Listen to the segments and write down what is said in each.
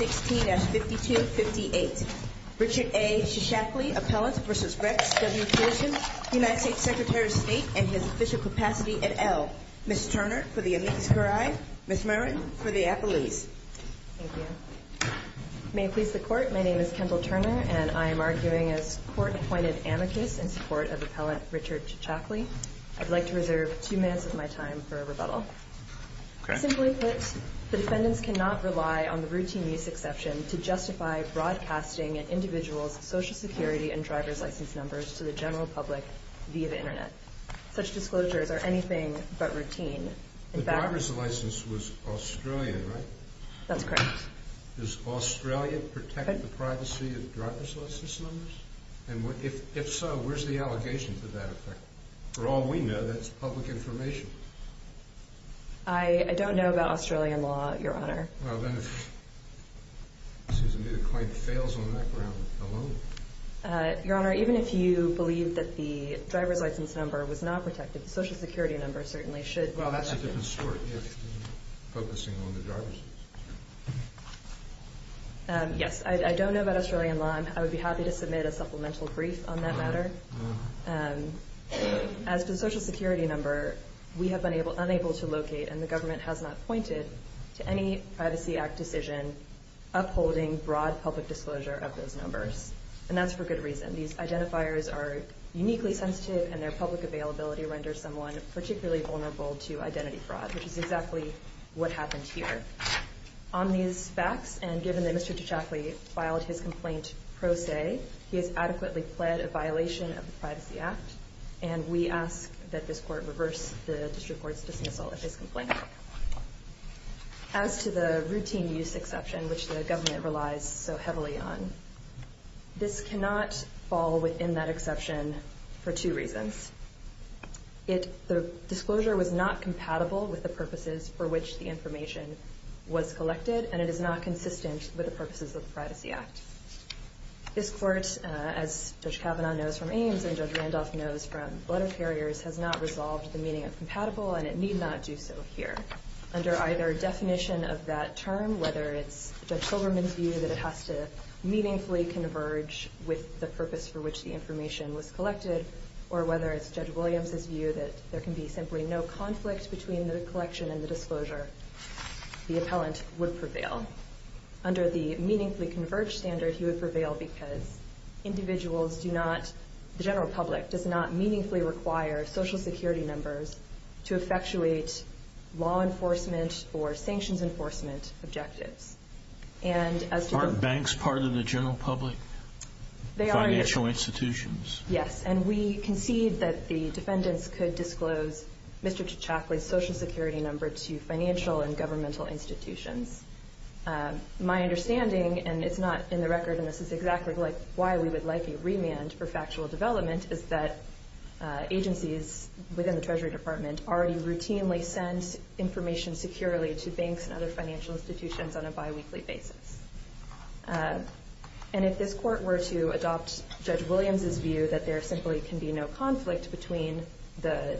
16-5258 Richard A. Chichakli, Appellant v. Rex W. Tillerson, U.S. Secretary of State, and his official capacity et al. Ms. Turner for the amicus curiae, Ms. Murren for the appellees Thank you. May it please the Court, my name is Kimball Turner and I am arguing as Court-appointed amicus in support of Appellant Richard Chichakli I'd like to reserve two minutes of my time for rebuttal Simply put, the defendants cannot rely on the routine use exception to justify broadcasting an individual's Social Security and driver's license numbers to the general public via the Internet Such disclosures are anything but routine The driver's license was Australian, right? That's correct Does Australia protect the privacy of driver's license numbers? And if so, where's the allegation to that effect? For all we know, that's public information I don't know about Australian law, Your Honor Well, then if the claim fails on that ground alone Your Honor, even if you believe that the driver's license number was not protected, the Social Security number certainly should be protected Well, that's a different story if you're focusing on the driver's license Yes, I don't know about Australian law I would be happy to submit a supplemental brief on that matter As to the Social Security number, we have been unable to locate and the government has not pointed to any Privacy Act decision upholding broad public disclosure of those numbers And that's for good reason These identifiers are uniquely sensitive and their public availability renders someone particularly vulnerable to identity fraud which is exactly what happened here On these facts, and given that Mr. Tachakli filed his complaint pro se he has adequately pled a violation of the Privacy Act and we ask that this Court reverse the District Court's dismissal of his complaint As to the routine use exception, which the government relies so heavily on this cannot fall within that exception for two reasons The disclosure was not compatible with the purposes for which the information was collected and it is not consistent with the purposes of the Privacy Act This Court, as Judge Kavanaugh knows from Ames and Judge Randolph knows from Letter Carriers has not resolved the meaning of compatible and it need not do so here Under either definition of that term, whether it's Judge Silverman's view that it has to meaningfully converge with the purpose for which the information was collected or whether it's Judge Williams' view that there can be simply no conflict between the collection and the disclosure the appellant would prevail Under the meaningfully converge standard, he would prevail because the general public does not meaningfully require Social Security members to effectuate law enforcement or sanctions enforcement objectives Aren't banks part of the general public? They are Financial institutions Yes, and we concede that the defendants could disclose Mr. Tkachakli's Social Security number to financial and governmental institutions My understanding, and it's not in the record and this is exactly why we would like a remand for factual development is that agencies within the Treasury Department already routinely send information securely to banks and other financial institutions on a bi-weekly basis And if this court were to adopt Judge Williams' view that there simply can be no conflict between the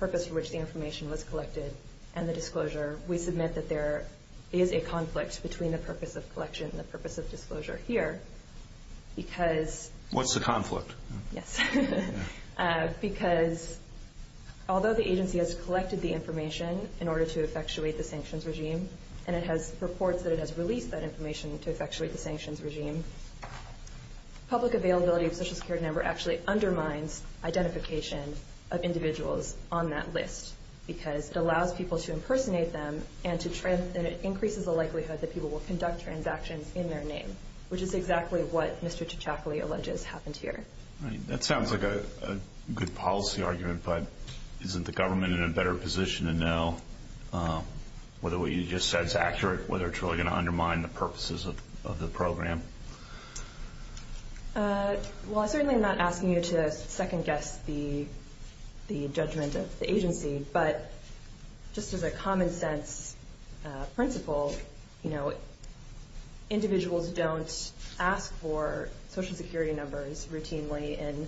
purpose for which the information was collected and the disclosure we submit that there is a conflict between the purpose of collection and the purpose of disclosure here What's the conflict? Because although the agency has collected the information in order to effectuate the sanctions regime and it has reports that it has released that information to effectuate the sanctions regime public availability of Social Security number actually undermines identification of individuals on that list because it allows people to impersonate them and it increases the likelihood that people will conduct transactions in their name which is exactly what Mr. Tkachakli alleges happened here That sounds like a good policy argument, but isn't the government in a better position to know whether what you just said is accurate, whether it's really going to undermine the purposes of the program? Well, I'm certainly not asking you to second-guess the judgment of the agency but just as a common-sense principle, individuals don't ask for Social Security numbers routinely in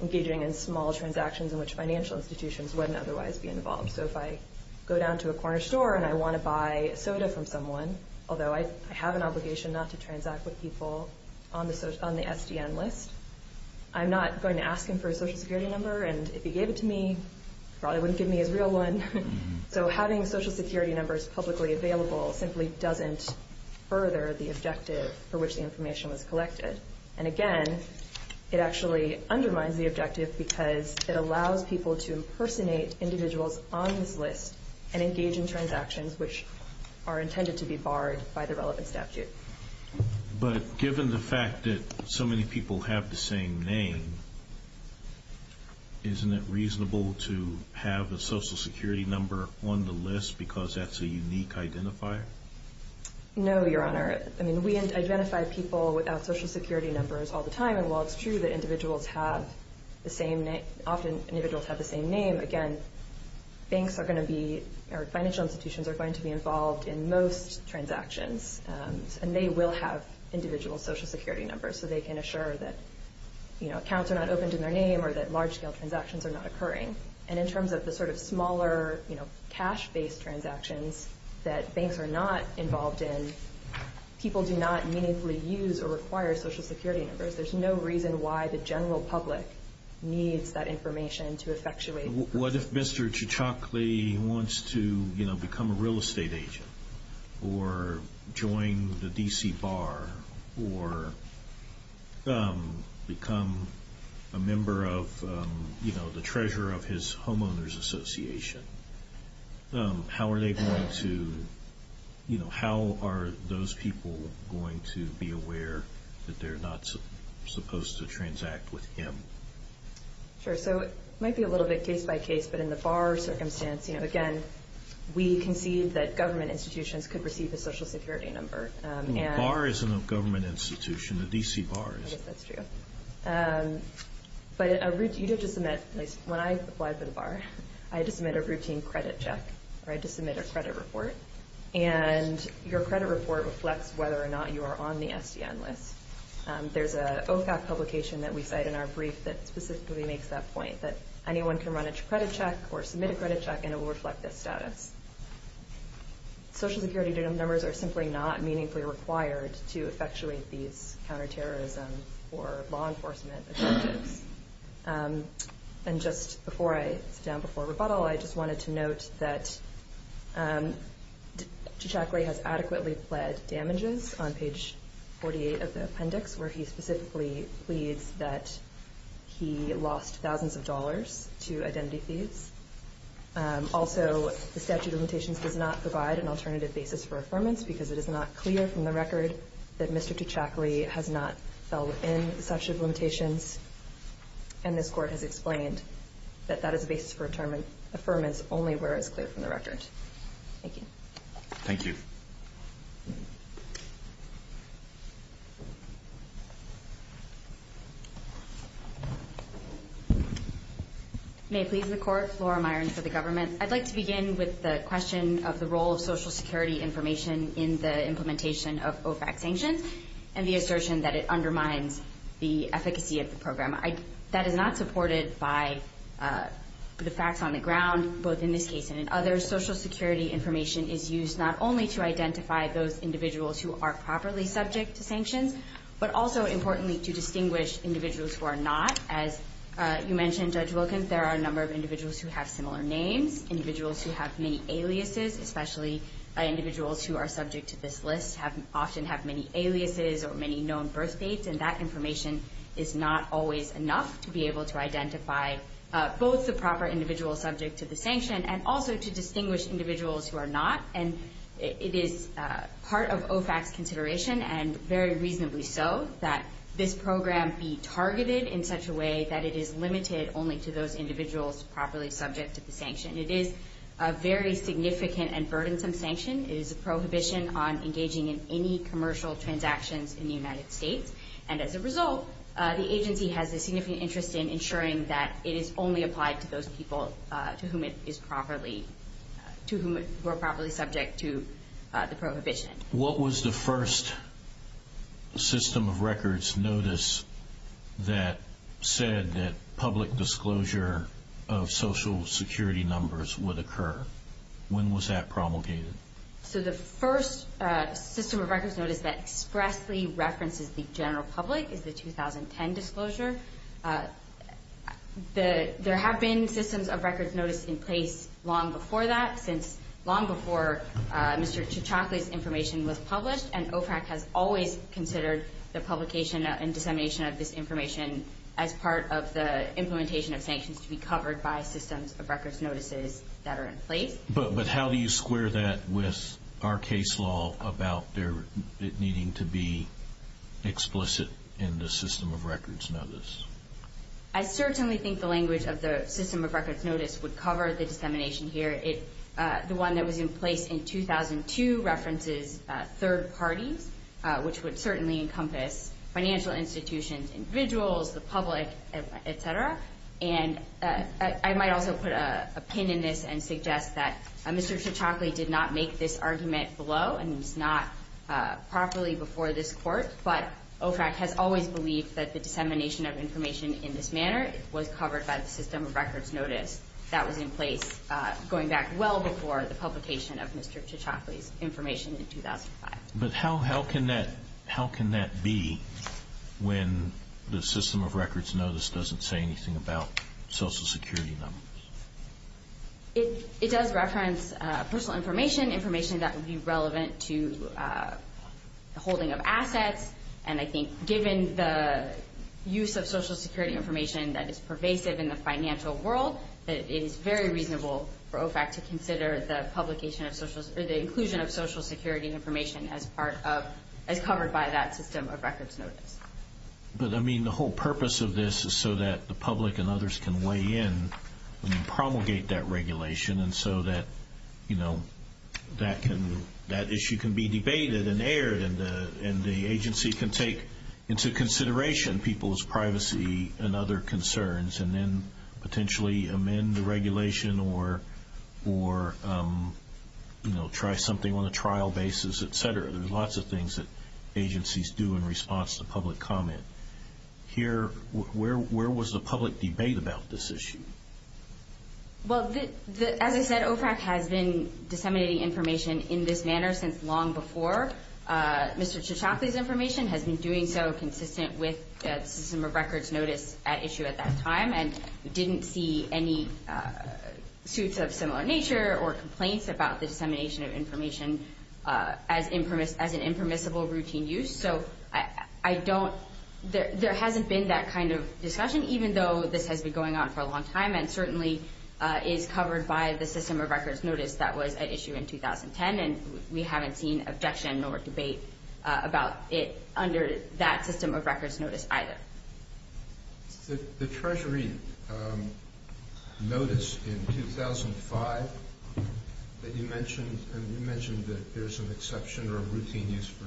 engaging in small transactions in which financial institutions wouldn't otherwise be involved So if I go down to a corner store and I want to buy soda from someone although I have an obligation not to transact with people on the SDN list I'm not going to ask him for a Social Security number and if he gave it to me, he probably wouldn't give me his real one So having Social Security numbers publicly available simply doesn't further the objective for which the information was collected and again, it actually undermines the objective because it allows people to impersonate individuals on this list and engage in transactions which are intended to be barred by the relevant statute But given the fact that so many people have the same name isn't it reasonable to have a Social Security number on the list because that's a unique identifier? No, Your Honor. We identify people without Social Security numbers all the time and while it's true that individuals often have the same name again, financial institutions are going to be involved in most transactions and they will have individual Social Security numbers so they can assure that accounts are not opened in their name or that large-scale transactions are not occurring and in terms of the sort of smaller cash-based transactions that banks are not involved in people do not meaningfully use or require Social Security numbers There's no reason why the general public needs that information to effectuate What if Mr. Chichokle wants to become a real estate agent or join the D.C. Bar or become a member of the treasurer of his homeowner's association? How are those people going to be aware that they're not supposed to transact with him? Sure, so it might be a little bit case-by-case, but in the bar circumstance again, we concede that government institutions could receive a Social Security number The bar isn't a government institution. The D.C. Bar is. I guess that's true. But when I applied for the bar, I had to submit a routine credit check or I had to submit a credit report and your credit report reflects whether or not you are on the SDN list There's an OFAC publication that we cite in our brief that specifically makes that point that anyone can run a credit check or submit a credit check and it will reflect this status Social Security numbers are simply not meaningfully required to effectuate these counterterrorism or law enforcement objectives And just before I sit down before rebuttal, I just wanted to note that Chichokle has adequately pled damages on page 48 of the appendix where he specifically pleads that he lost thousands of dollars to identity thieves Also, the statute of limitations does not provide an alternative basis for affirmance because it is not clear from the record that Mr. Chichokle has not fell within the statute of limitations and this Court has explained that that is a basis for affirmative affirmance only where it is clear from the record. Thank you. Thank you. May it please the Court. Flora Myron for the government. I'd like to begin with the question of the role of Social Security information in the implementation of OFAC sanctions and the assertion that it undermines the efficacy of the program That is not supported by the facts on the ground both in this case and in others Social Security information is used not only to identify those individuals who are properly subject to sanctions but also, importantly, to distinguish individuals who are not As you mentioned, Judge Wilkins, there are a number of individuals who have similar names individuals who have many aliases especially individuals who are subject to this list often have many aliases or many known birth dates and that information is not always enough to be able to identify both the proper individual subject to the sanction and also to distinguish individuals who are not It is part of OFAC's consideration and very reasonably so that this program be targeted in such a way that it is limited only to those individuals properly subject to the sanction It is a very significant and burdensome sanction It is a prohibition on engaging in any commercial transactions in the United States and as a result, the agency has a significant interest in ensuring that it is only applied to those people to whom it is properly to whom it is properly subject to the prohibition What was the first system of records notice that said that public disclosure of Social Security numbers would occur? When was that promulgated? The first system of records notice that expressly references the general public is the 2010 disclosure There have been systems of records notice in place long before that since long before Mr. Ciaccioccoli's information was published and OFAC has always considered the publication and dissemination of this information as part of the implementation of sanctions to be covered by systems of records notices that are in place But how do you square that with our case law about it needing to be explicit in the system of records notice? I certainly think the language of the system of records notice would cover the dissemination here The one that was in place in 2002 references third parties which would certainly encompass financial institutions, individuals, the public, etc. I might also put a pin in this and suggest that Mr. Ciaccioccoli did not make this argument below and was not properly before this court but OFAC has always believed that the dissemination of information in this manner was covered by the system of records notice that was in place going back well before the publication of Mr. Ciaccioccoli's information in 2005 But how can that be when the system of records notice doesn't say anything about Social Security numbers? It does reference personal information information that would be relevant to the holding of assets and I think given the use of Social Security information that is pervasive in the financial world that it is very reasonable for OFAC to consider the inclusion of Social Security information as covered by that system of records notice But the whole purpose of this is so that the public and others can weigh in and promulgate that regulation and so that issue can be debated and aired and the agency can take into consideration people's privacy and other concerns and then potentially amend the regulation or try something on a trial basis, etc. There are lots of things that agencies do in response to public comment. Where was the public debate about this issue? Well, as I said, OFAC has been disseminating information in this manner since long before Mr. Ciaccioccoli's information has been doing so consistent with the system of records notice issue at that time and didn't see any suits of similar nature or complaints about the dissemination of information as an impermissible routine use. So there hasn't been that kind of discussion even though this has been going on for a long time and certainly is covered by the system of records notice that was at issue in 2010 and we haven't seen objection or debate about it under that system of records notice either. The Treasury notice in 2005 that you mentioned and you mentioned that there's an exception or a routine use for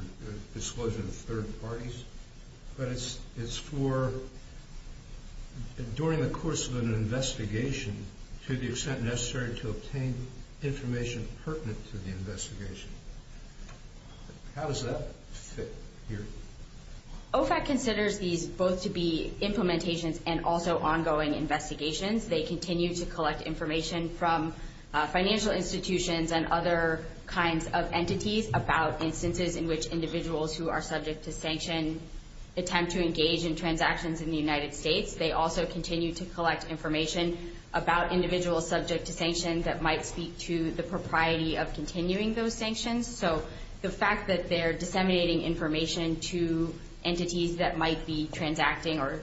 disclosure to third parties but it's for during the course of an investigation to the extent necessary to obtain information pertinent to the investigation. How does that fit here? OFAC considers these both to be implementations and also ongoing investigations. They continue to collect information from financial institutions and other kinds of entities about instances in which individuals who are subject to sanction attempt to engage in transactions in the United States. They also continue to collect information about individuals subject to sanctions that might speak to the propriety of continuing those sanctions. So the fact that they're disseminating information to entities that might be transacting or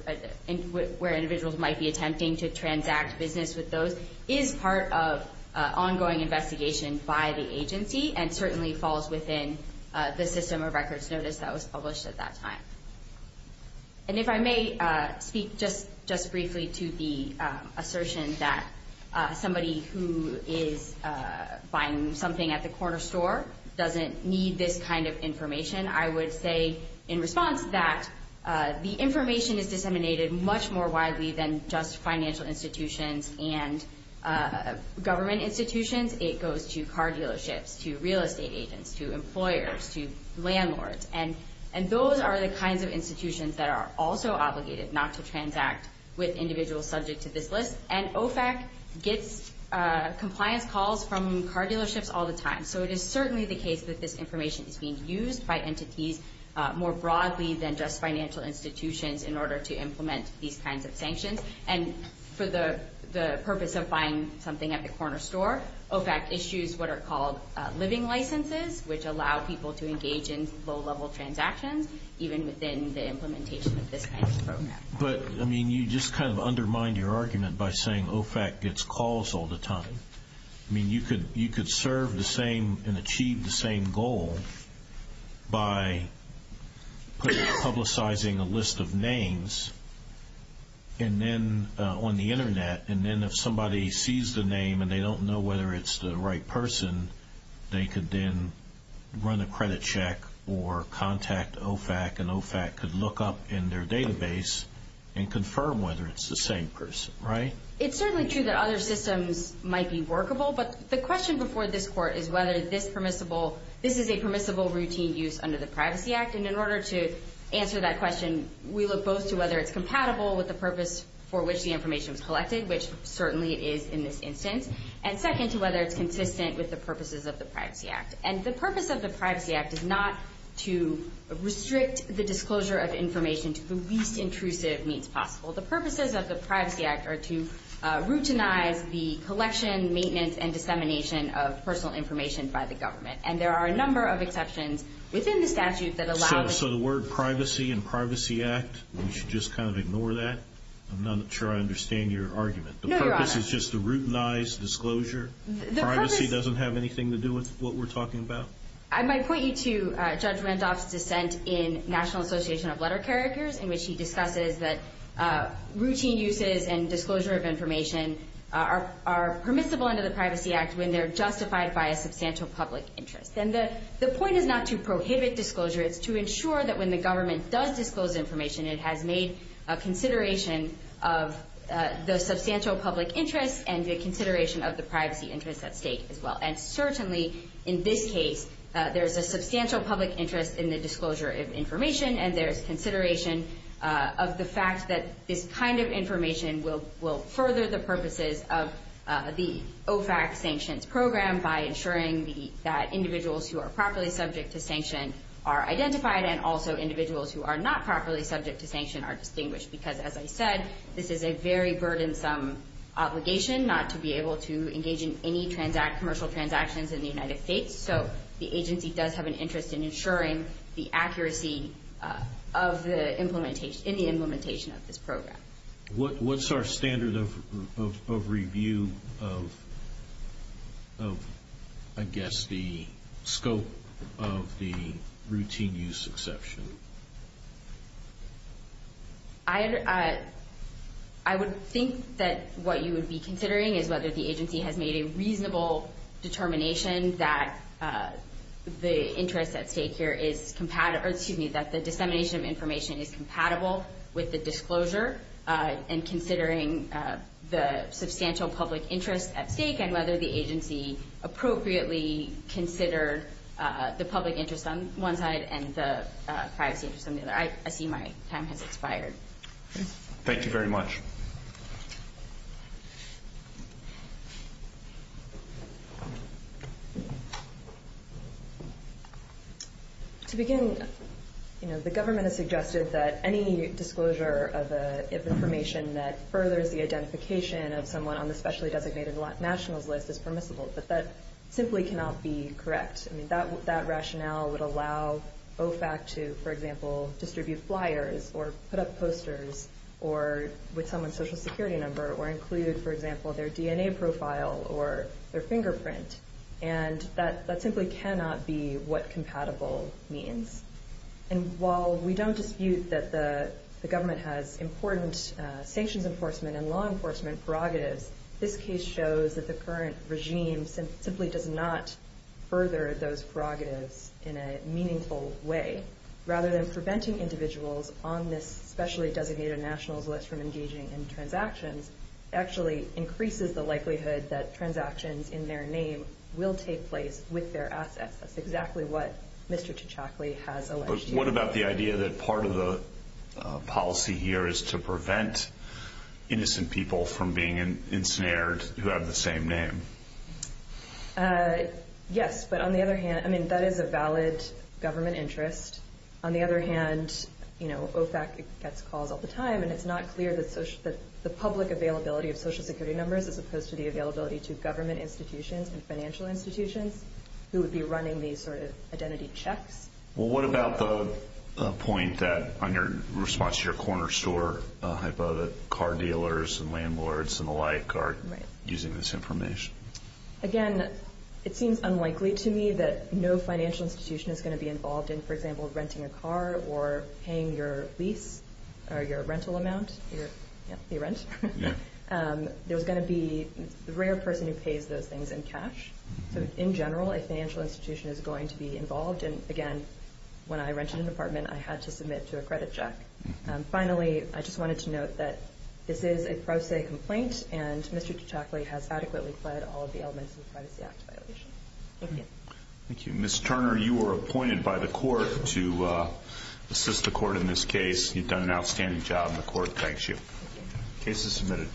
where individuals might be attempting to transact business with those is part of ongoing investigation by the agency and certainly falls within the system of records notice that was published at that time. And if I may speak just briefly to the assertion that somebody who is buying something at the corner store doesn't need this kind of information, I would say in response that the information is disseminated much more widely than just financial institutions and government institutions. It goes to car dealerships, to real estate agents, to employers, to landlords. And those are the kinds of institutions that are also obligated not to transact with individuals subject to this list. And OFAC gets compliance calls from car dealerships all the time. So it is certainly the case that this information is being used by entities more broadly than just financial institutions in order to implement these kinds of sanctions. And for the purpose of buying something at the corner store, OFAC issues what are called living licenses, which allow people to engage in low-level transactions even within the implementation of this kind of program. But, I mean, you just kind of undermine your argument by saying OFAC gets calls all the time. I mean, you could serve the same and achieve the same goal by publicizing a list of names and then on the Internet, and then if somebody sees the name and they don't know whether it's the right person, they could then run a credit check or contact OFAC, and OFAC could look up in their database and confirm whether it's the same person, right? It's certainly true that other systems might be workable, but the question before this Court is whether this permissible, this is a permissible routine use under the Privacy Act. And in order to answer that question, we look both to whether it's compatible with the purpose for which the information was collected, which certainly it is in this instance, and second, to whether it's consistent with the purposes of the Privacy Act. And the purpose of the Privacy Act is not to restrict the disclosure of information to the least intrusive means possible. The purposes of the Privacy Act are to routinize the collection, maintenance, and dissemination of personal information by the government. And there are a number of exceptions within the statute that allow... So the word privacy and Privacy Act, we should just kind of ignore that? I'm not sure I understand your argument. The purpose is just to routinize disclosure? Privacy doesn't have anything to do with what we're talking about? I might point you to Judge Randolph's dissent in National Association of Letter Carriers in which he discusses that routine uses and disclosure of information are permissible under the Privacy Act when they're justified by a substantial public interest. And the point is not to prohibit disclosure. It's to ensure that when the government does disclose information, it has made a consideration of the substantial public interest and a consideration of the privacy interests at stake as well. And certainly in this case, there's a substantial public interest in the disclosure of information, and there's consideration of the fact that this kind of information will further the purposes of the OFAC sanctions program by ensuring that individuals who are properly subject to sanction are identified, and also individuals who are not properly subject to sanction are distinguished because, as I said, this is a very burdensome obligation not to be able to engage in any commercial transactions in the United States. So the agency does have an interest in ensuring the accuracy in the implementation of this program. What's our standard of review of, I guess, the scope of the routine use exception? I would think that what you would be considering is whether the agency has made a reasonable determination that the interest at stake here is compatible... with the disclosure and considering the substantial public interest at stake and whether the agency appropriately considered the public interest on one side and the privacy interest on the other. I see my time has expired. Thank you very much. To begin, you know, the government has suggested that any disclosure of information that furthers the identification of someone on the specially designated nationals list is permissible, but that simply cannot be correct. I mean, that rationale would allow OFAC to, for example, distribute flyers or put up posters put up a flyer that says, or include, for example, their DNA profile or their fingerprint, and that simply cannot be what compatible means. And while we don't dispute that the government has important sanctions enforcement and law enforcement prerogatives, this case shows that the current regime simply does not further those prerogatives in a meaningful way. Rather than preventing individuals on this specially designated nationals list from engaging in transactions, it actually increases the likelihood that transactions in their name will take place with their assets. That's exactly what Mr. Tkachakli has alleged here. But what about the idea that part of the policy here is to prevent innocent people from being ensnared who have the same name? Yes, but on the other hand, I mean, that is a valid government interest. On the other hand, you know, OFAC gets calls all the time, and it's not clear that the public availability of Social Security numbers, as opposed to the availability to government institutions and financial institutions, who would be running these sort of identity checks. Well, what about the point that, on your response to your corner store hypo, that car dealers and landlords and the like are using this information? Again, it seems unlikely to me that no financial institution is going to be involved in, for example, renting a car or paying your lease or your rental amount, your rent. There's going to be a rare person who pays those things in cash. So in general, a financial institution is going to be involved. And again, when I rented an apartment, I had to submit to a credit check. Finally, I just wanted to note that this is a pro se complaint, and Mr. Tkachakli has adequately fled all of the elements of the Privacy Act violation. Thank you. Thank you. Mr. Turner, you were appointed by the court to assist the court in this case. You've done an outstanding job, and the court thanks you. Case is submitted.